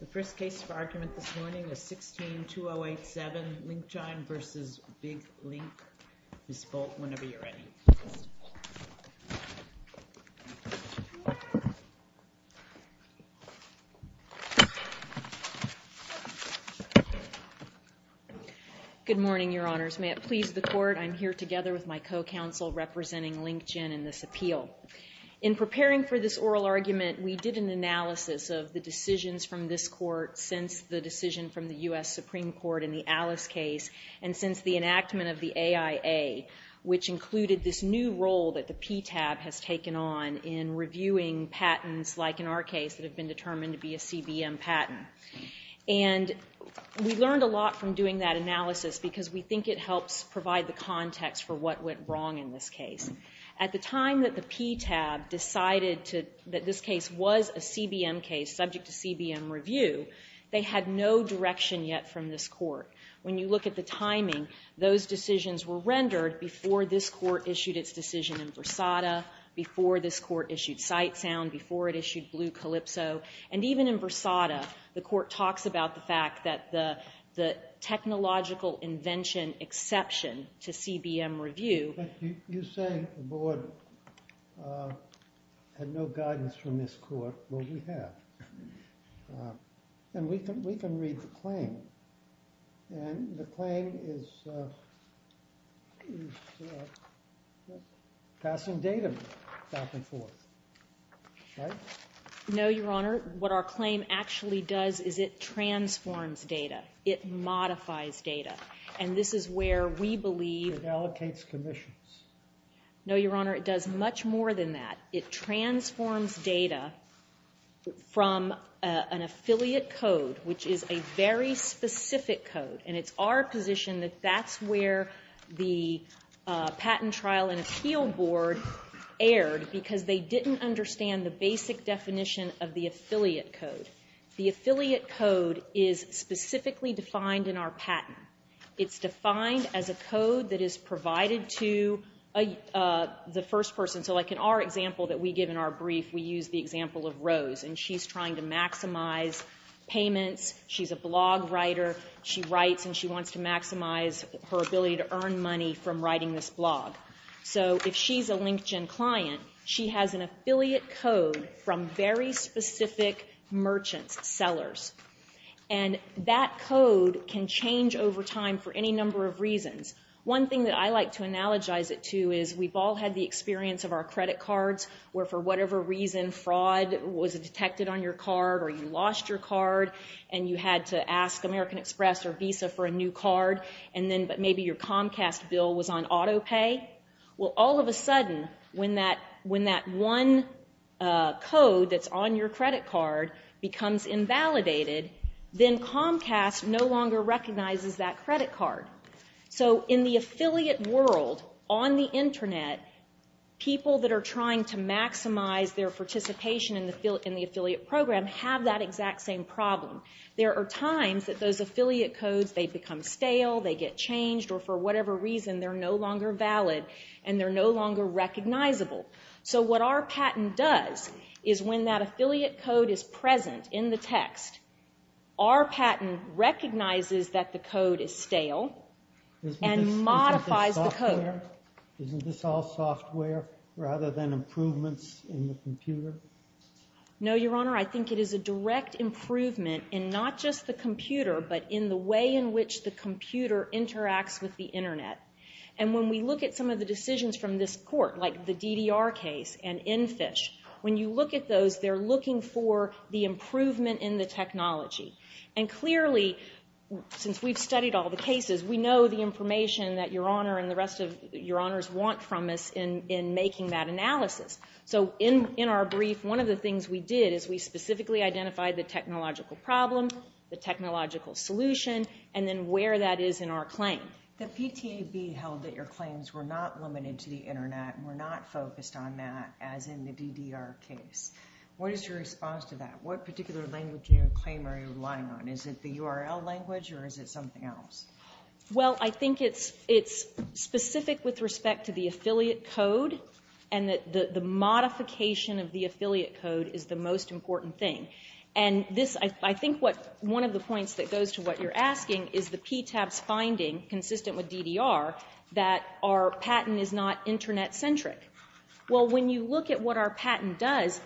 The first case for argument this morning is 16-2087, Linkgine v. VigLink. Ms. Bolt, whenever you're ready. Good morning, Your Honors. May it please the Court, I'm here together with my co-counsel representing Linkgine in this appeal. In preparing for this oral argument, we did an analysis of the decisions from this Court since the decision from the U.S. Supreme Court in the Alice case, and since the enactment of the AIA, which included this new role that the PTAB has taken on in reviewing patents, like in our case, that have been determined to be a CBM patent. And we learned a lot from doing that analysis because we think it helps provide the context for what went wrong in this case. At the time that the PTAB decided that this case was a CBM case subject to CBM review, they had no direction yet from this Court. When you look at the timing, those decisions were rendered before this Court issued its decision in Versada, before this Court issued Sightsound, before it issued Blue Calypso. And even in Versada, the Court talks about the fact that the technological invention exception to CBM review But you say the Board had no guidance from this Court. Well, we have. And we can read the claim. And the claim is passing data back and forth, right? No, Your Honor. What our claim actually does is it transforms data. It modifies data. And this is where we believe It allocates commissions. No, Your Honor, it does much more than that. It transforms data from an affiliate code, which is a very specific code. And it's our position that that's where the Patent Trial and Appeal Board erred because they didn't understand the basic definition of the affiliate code. The affiliate code is specifically defined in our patent. It's defined as a code that is provided to the first person. So like in our example that we give in our brief, we use the example of Rose. And she's trying to maximize payments. She's a blog writer. She writes and she wants to maximize her ability to earn money from writing this blog. So if she's a LinkedIn client, she has an affiliate code from very specific merchants, sellers. And that code can change over time for any number of reasons. One thing that I like to analogize it to is we've all had the experience of our credit cards where for whatever reason fraud was detected on your card or you lost your card and you had to ask American Express or Visa for a new card. But maybe your Comcast bill was on auto pay. Well, all of a sudden, when that one code that's on your credit card becomes invalidated, then Comcast no longer recognizes that credit card. So in the affiliate world, on the Internet, people that are trying to maximize their participation in the affiliate program have that exact same problem. There are times that those affiliate codes, they become stale, they get changed, or for whatever reason they're no longer valid and they're no longer recognizable. So what our patent does is when that affiliate code is present in the text, our patent recognizes that the code is stale and modifies the code. Isn't this all software rather than improvements in the computer? No, Your Honor, I think it is a direct improvement in not just the computer but in the way in which the computer interacts with the Internet. And when we look at some of the decisions from this court, like the DDR case and EnFish, when you look at those, they're looking for the improvement in the technology. And clearly, since we've studied all the cases, we know the information that Your Honor and the rest of Your Honors want from us in making that analysis. So in our brief, one of the things we did is we specifically identified the technological problem, the technological solution, and then where that is in our claim. The PTAB held that your claims were not limited to the Internet and were not focused on that as in the DDR case. What is your response to that? What particular language in your claim are you relying on? Is it the URL language or is it something else? Well, I think it's specific with respect to the affiliate code and that the modification of the affiliate code is the most important thing. And I think one of the points that goes to what you're asking is the PTAB's finding, consistent with DDR, that our patent is not Internet-centric. Well, when you look at what our patent does,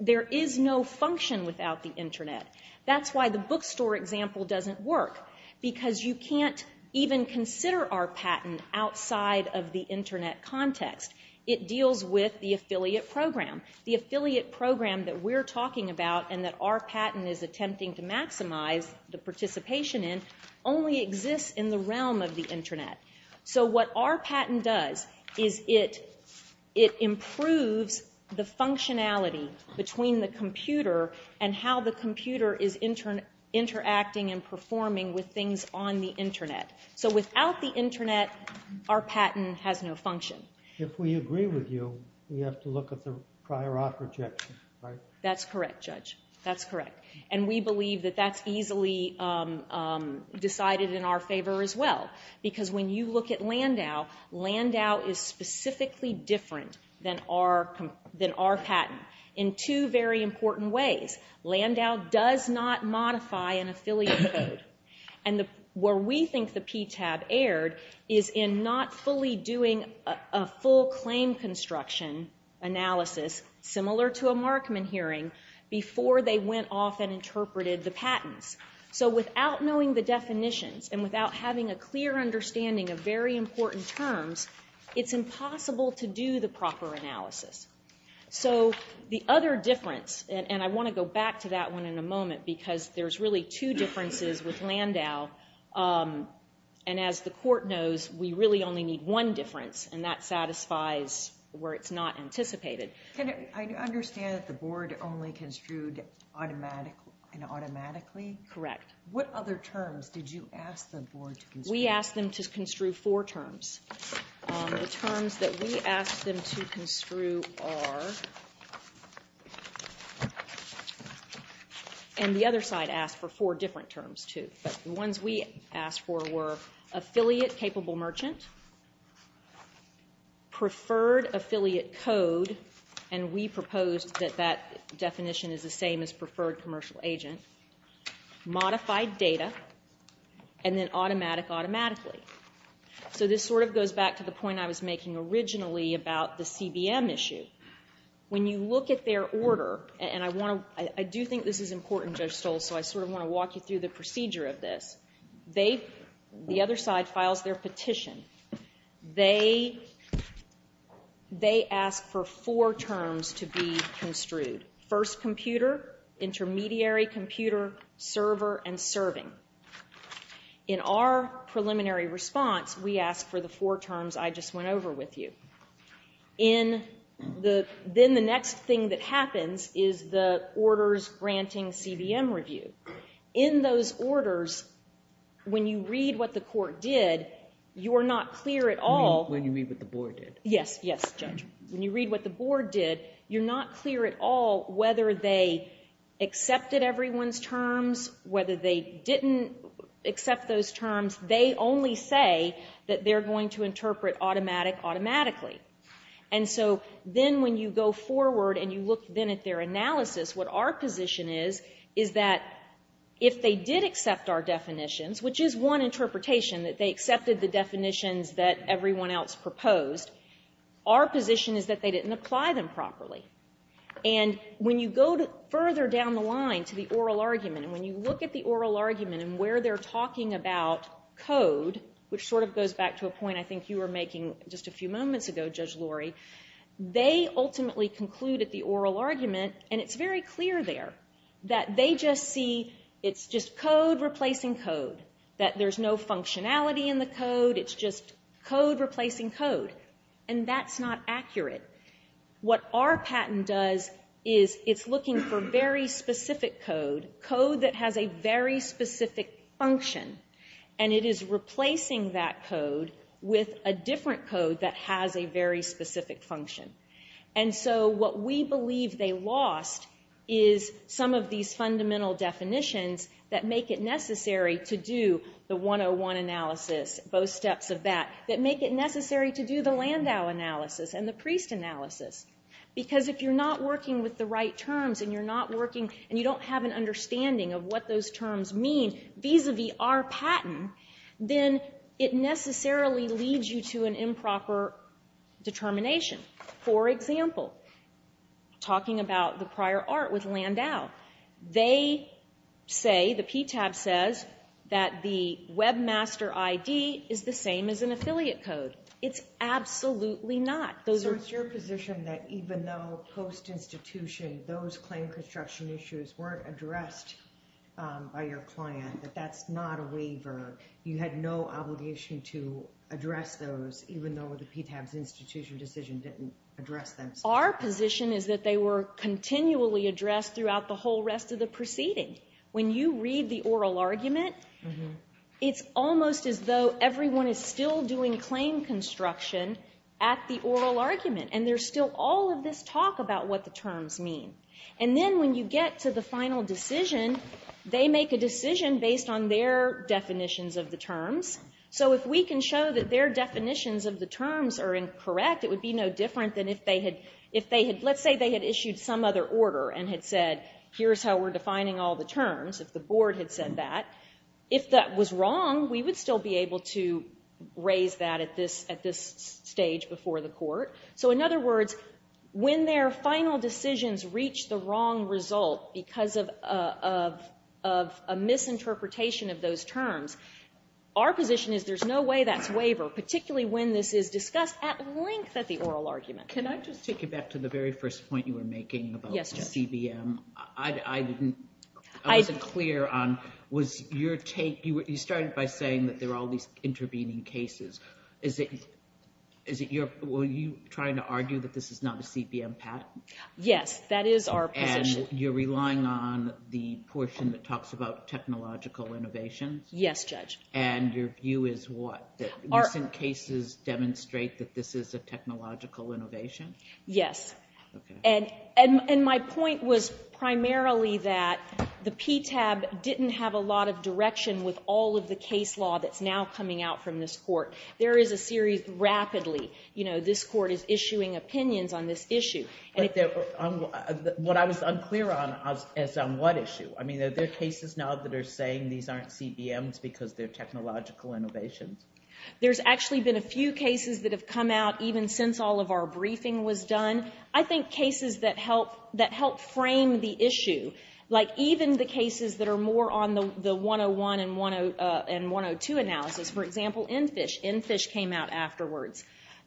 there is no function without the Internet. That's why the bookstore example doesn't work, because you can't even consider our patent outside of the Internet context. It deals with the affiliate program. The affiliate program that we're talking about and that our patent is attempting to maximize the participation in only exists in the realm of the Internet. So what our patent does is it improves the functionality between the computer and how the computer is interacting and performing with things on the Internet. So without the Internet, our patent has no function. If we agree with you, we have to look at the prior offer objection, right? That's correct, Judge. That's correct. And we believe that that's easily decided in our favor as well, because when you look at Landau, Landau is specifically different than our patent in two very important ways. Landau does not modify an affiliate code. And where we think the PTAB erred is in not fully doing a full claim construction analysis, similar to a Markman hearing, before they went off and interpreted the patents. So without knowing the definitions and without having a clear understanding of very important terms, it's impossible to do the proper analysis. So the other difference, and I want to go back to that one in a moment, because there's really two differences with Landau. And as the Court knows, we really only need one difference, and that satisfies where it's not anticipated. I understand that the Board only construed automatically? Correct. What other terms did you ask the Board to construe? We asked them to construe four terms. The terms that we asked them to construe are and the other side asked for four different terms too, but the ones we asked for were affiliate-capable merchant, preferred affiliate code, and we proposed that that definition is the same as preferred commercial agent, modified data, and then automatic automatically. So this sort of goes back to the point I was making originally about the CBM issue. When you look at their order, and I do think this is important, Judge Stoll, so I sort of want to walk you through the procedure of this. The other side files their petition. They ask for four terms to be construed, first computer, intermediary computer, server, and serving. In our preliminary response, we ask for the four terms I just went over with you. Then the next thing that happens is the orders granting CBM review. In those orders, when you read what the Court did, you're not clear at all. When you read what the Board did? Yes, yes, Judge. When you read what the Board did, you're not clear at all whether they accepted everyone's terms, whether they didn't accept those terms. They only say that they're going to interpret automatic automatically. And so then when you go forward and you look then at their analysis, what our position is is that if they did accept our definitions, which is one interpretation that they accepted the definitions that everyone else proposed, our position is that they didn't apply them properly. And when you go further down the line to the oral argument, and when you look at the oral argument and where they're talking about code, which sort of goes back to a point I think you were making just a few moments ago, Judge Lori, they ultimately conclude at the oral argument, and it's very clear there, that they just see it's just code replacing code, that there's no functionality in the code, it's just code replacing code. And that's not accurate. What our patent does is it's looking for very specific code, code that has a very specific function, and it is replacing that code with a different code that has a very specific function. And so what we believe they lost is some of these fundamental definitions that make it necessary to do the 101 analysis, both steps of that, that make it necessary to do the Landau analysis and the Priest analysis. Because if you're not working with the right terms, and you're not working, and you don't have an understanding of what those terms mean, vis-a-vis our patent, then it necessarily leads you to an improper determination. For example, talking about the prior art with Landau, they say, the PTAB says, that the Webmaster ID is the same as an affiliate code. It's absolutely not. So it's your position that even though post-institution, those claim construction issues weren't addressed by your client, that that's not a waiver? You had no obligation to address those, even though the PTAB's institution decision didn't address them? Our position is that they were continually addressed throughout the whole rest of the proceeding. When you read the oral argument, it's almost as though everyone is still doing claim construction at the oral argument. And there's still all of this talk about what the terms mean. And then when you get to the final decision, they make a decision based on their definitions of the terms. So if we can show that their definitions of the terms are incorrect, it would be no different than if they had, let's say they had issued some other order and had said, here's how we're defining all the terms, if the board had said that. If that was wrong, we would still be able to raise that at this stage before the court. So in other words, when their final decisions reach the wrong result because of a misinterpretation of those terms, our position is there's no way that's waiver, particularly when this is discussed at length at the oral argument. Can I just take you back to the very first point you were making about the CBM? I wasn't clear on, was your take, you started by saying that there are all these intervening cases. Is it, were you trying to argue that this is not a CBM patent? Yes, that is our position. And you're relying on the portion that talks about technological innovation? Yes, Judge. And your view is what? Recent cases demonstrate that this is a technological innovation? Yes. Okay. And my point was primarily that the PTAB didn't have a lot of direction with all of the case law that's now coming out from this court. There is a series rapidly, you know, this court is issuing opinions on this issue. What I was unclear on is on what issue. I mean, are there cases now that are saying these aren't CBMs because they're technological innovations? There's actually been a few cases that have come out, even since all of our briefing was done, I think cases that help frame the issue, like even the cases that are more on the 101 and 102 analysis. For example, EnFISH. EnFISH came out afterwards.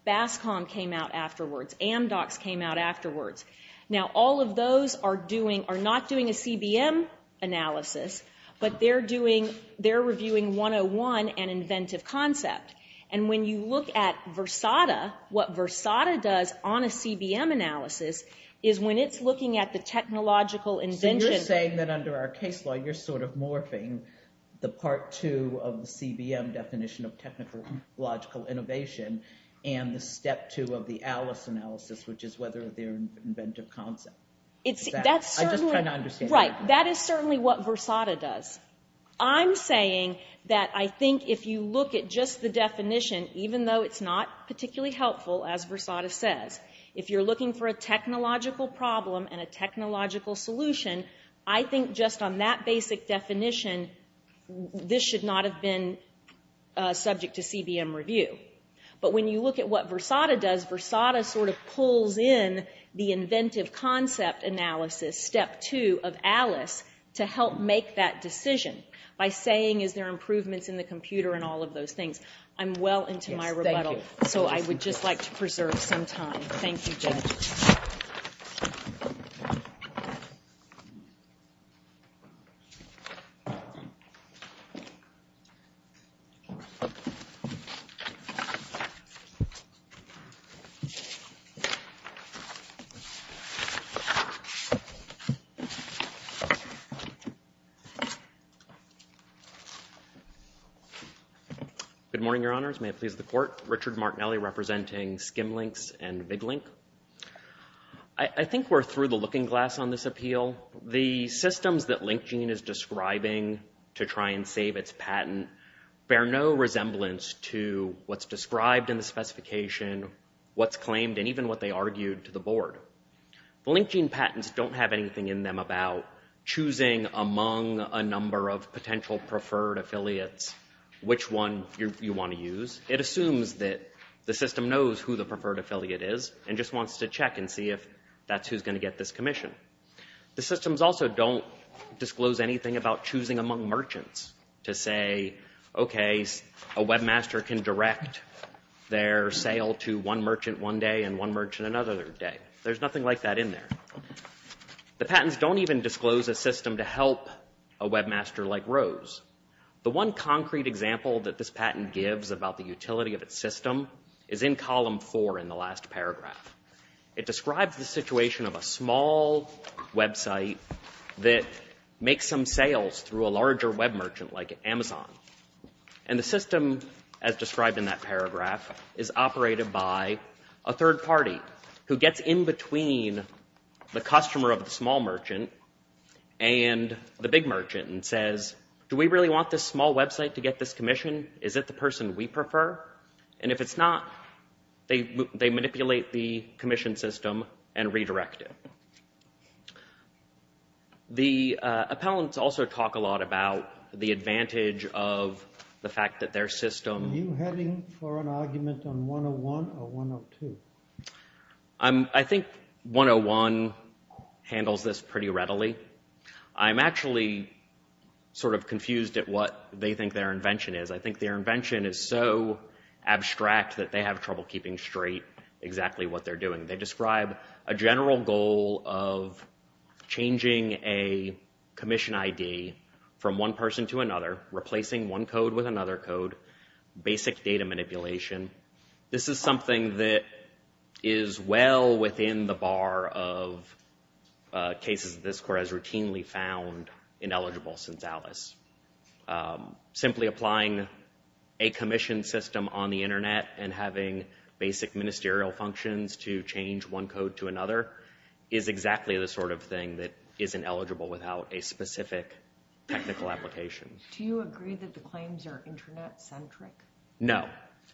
BASCOM came out afterwards. Amdocs came out afterwards. Now, all of those are doing, are not doing a CBM analysis, but they're doing, they're reviewing 101 and inventive concept. And when you look at Versada, what Versada does on a CBM analysis is when it's looking at the technological invention. So you're saying that under our case law, you're sort of morphing the Part 2 of the CBM definition of technological innovation and the Step 2 of the ALICE analysis, which is whether they're inventive concept. I'm just trying to understand that. Right. That is certainly what Versada does. I'm saying that I think if you look at just the definition, even though it's not particularly helpful, as Versada says, if you're looking for a technological problem and a technological solution, I think just on that basic definition, this should not have been subject to CBM review. But when you look at what Versada does, Versada sort of pulls in the inventive concept analysis, Step 2 of ALICE, to help make that decision by saying, is there improvements in the computer and all of those things. I'm well into my rebuttal, so I would just like to preserve some time. Thank you, Judge. Good morning, Your Honors. May it please the Court. Richard Martinelli representing Skimlinks and VigLink. I think we're through the looking glass on this appeal. The systems that LinkGene is describing to try and save its patent bear no resemblance to what's described in the specification, what's claimed, and even what they argued to the board. The LinkGene patents don't have anything in them about choosing among a number of potential preferred affiliates which one you want to use. It assumes that the system knows who the preferred affiliate is and just wants to check and see if that's who's going to get this commission. The systems also don't disclose anything about choosing among merchants to say, okay, a webmaster can direct their sale to one merchant one day and one merchant another day. There's nothing like that in there. The patents don't even disclose a system to help a webmaster like Rose. The one concrete example that this patent gives about the utility of its system is in column four in the last paragraph. It describes the situation of a small website that makes some sales through a larger web merchant like Amazon. And the system, as described in that paragraph, is operated by a third party who gets in between the customer of the small merchant and the big merchant and says, do we really want this small website to get this commission? Is it the person we prefer? And if it's not, they manipulate the commission system and redirect it. The appellants also talk a lot about the advantage of the fact that their system Are you heading for an argument on 101 or 102? I think 101 handles this pretty readily. I'm actually sort of confused at what they think their invention is. I think their invention is so abstract that they have trouble keeping straight exactly what they're doing. They describe a general goal of changing a commission ID from one person to another, replacing one code with another code, basic data manipulation. This is something that is well within the bar of cases that this court has routinely found ineligible since Alice. Simply applying a commission system on the Internet and having basic ministerial functions to change one code to another is exactly the sort of thing that isn't eligible without a specific technical application. Do you agree that the claims are Internet-centric? No.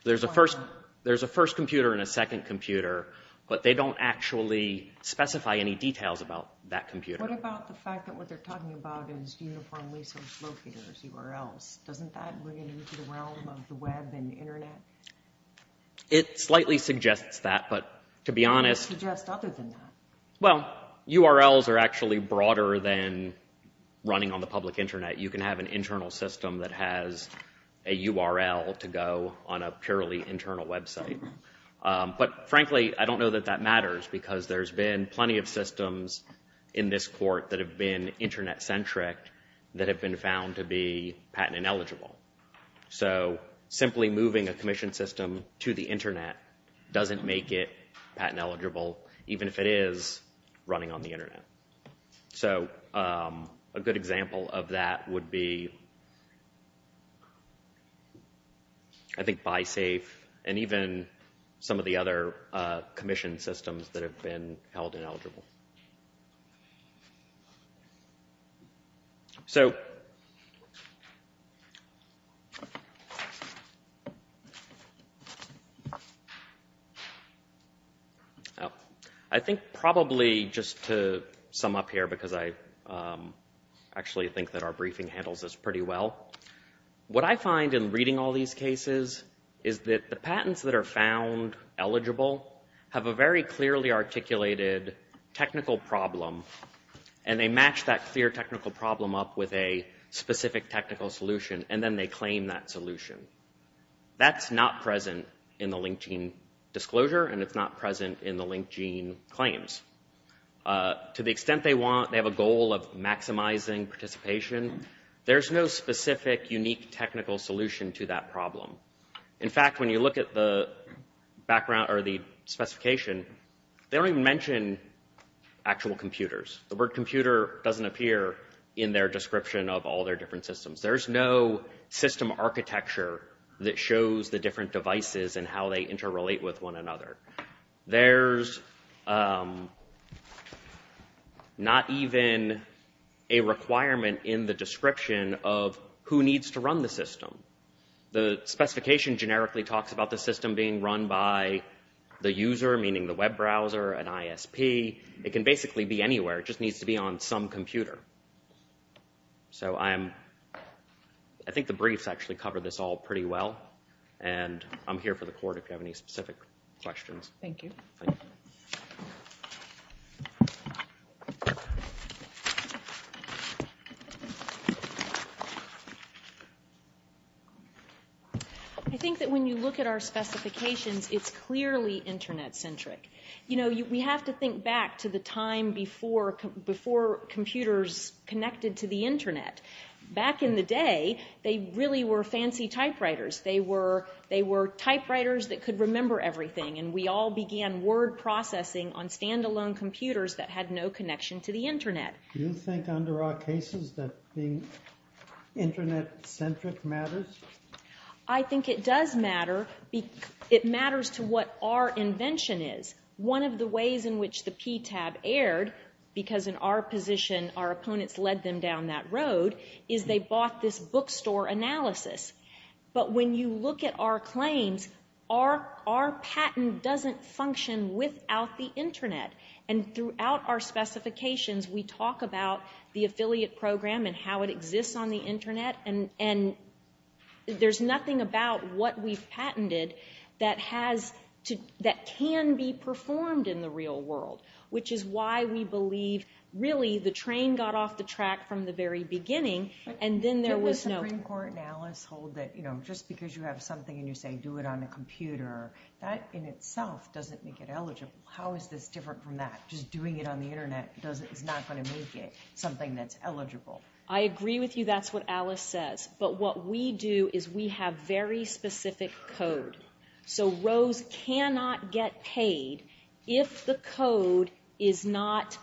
There's a first computer and a second computer, but they don't actually specify any details about that computer. What about the fact that what they're talking about is uniform resource locators, URLs? Doesn't that bring it into the realm of the Web and the Internet? It slightly suggests that, but to be honest... What does it suggest other than that? Well, URLs are actually broader than running on the public Internet. You can have an internal system that has a URL to go on a purely internal website. But frankly, I don't know that that matters because there's been plenty of systems in this court that have been Internet-centric that have been found to be patent ineligible. So simply moving a commission system to the Internet doesn't make it patent eligible, even if it is running on the Internet. So a good example of that would be, I think, BySafe and even some of the other commission systems that have been held ineligible. So... I think probably just to sum up here, because I actually think that our briefing handles this pretty well, what I find in reading all these cases is that the patents that are found eligible have a very clearly articulated technical problem and they match that clear technical problem up with a specific technical solution and then they claim that solution. That's not present in the LinkedIn disclosure and it's not present in the LinkedIn claims. To the extent they have a goal of maximizing participation, there's no specific, unique technical solution to that problem. In fact, when you look at the background or the specification, they don't even mention actual computers. The word computer doesn't appear in their description of all their different systems. There's no system architecture that shows the different devices and how they interrelate with one another. There's not even a requirement in the description of who needs to run the system. The specification generically talks about the system being run by the user, meaning the web browser, an ISP. It can basically be anywhere. It just needs to be on some computer. So I think the briefs actually cover this all pretty well and I'm here for the court if you have any specific questions. Thank you. I think that when you look at our specifications, it's clearly Internet-centric. You know, we have to think back to the time before computers connected to the Internet. Back in the day, they really were fancy typewriters. They were typewriters that could remember everything and we all began word processing on stand-alone computers that had no connection to the Internet. Do you think under our cases that being Internet-centric matters? I think it does matter. It matters to what our invention is. One of the ways in which the PTAB aired, because in our position our opponents led them down that road, is they bought this bookstore analysis. But when you look at our claims, our patent doesn't function without the Internet. And throughout our specifications, we talk about the affiliate program and how it exists on the Internet and there's nothing about what we've patented that can be performed in the real world, which is why we believe, really, the train got off the track from the very beginning and then there was no... Didn't the Supreme Court in Alice hold that, you know, just because you have something and you say, do it on a computer, that in itself doesn't make it eligible? How is this different from that? Just doing it on the Internet is not going to make it something that's eligible. I agree with you. That's what Alice says. But what we do is we have very specific code. So Rose cannot get paid if the code is not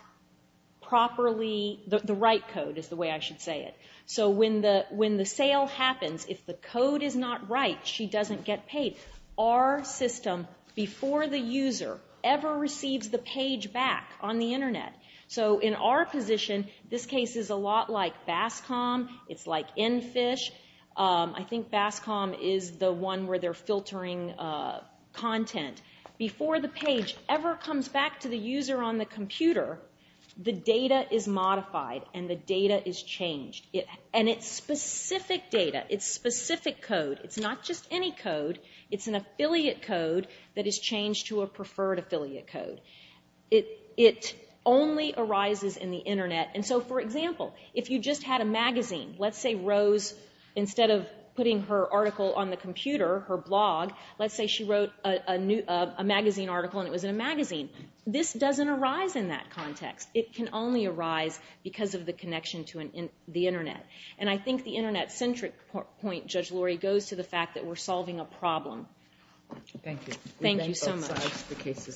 properly... The right code is the way I should say it. So when the sale happens, if the code is not right, she doesn't get paid. Our system, before the user ever receives the page back on the Internet, so in our position, this case is a lot like Bascom. It's like Enfish. I think Bascom is the one where they're filtering content. Before the page ever comes back to the user on the computer, the data is modified and the data is changed. And it's specific data. It's specific code. It's not just any code. It's an affiliate code that is changed to a preferred affiliate code. It only arises in the Internet. And so, for example, if you just had a magazine, let's say Rose, instead of putting her article on the computer, her blog, let's say she wrote a magazine article and it was in a magazine. This doesn't arise in that context. It can only arise because of the connection to the Internet. And I think the Internet-centric point, Judge Lori, goes to the fact that we're solving a problem. Thank you. Thank you so much. We thank both sides. The case is submitted.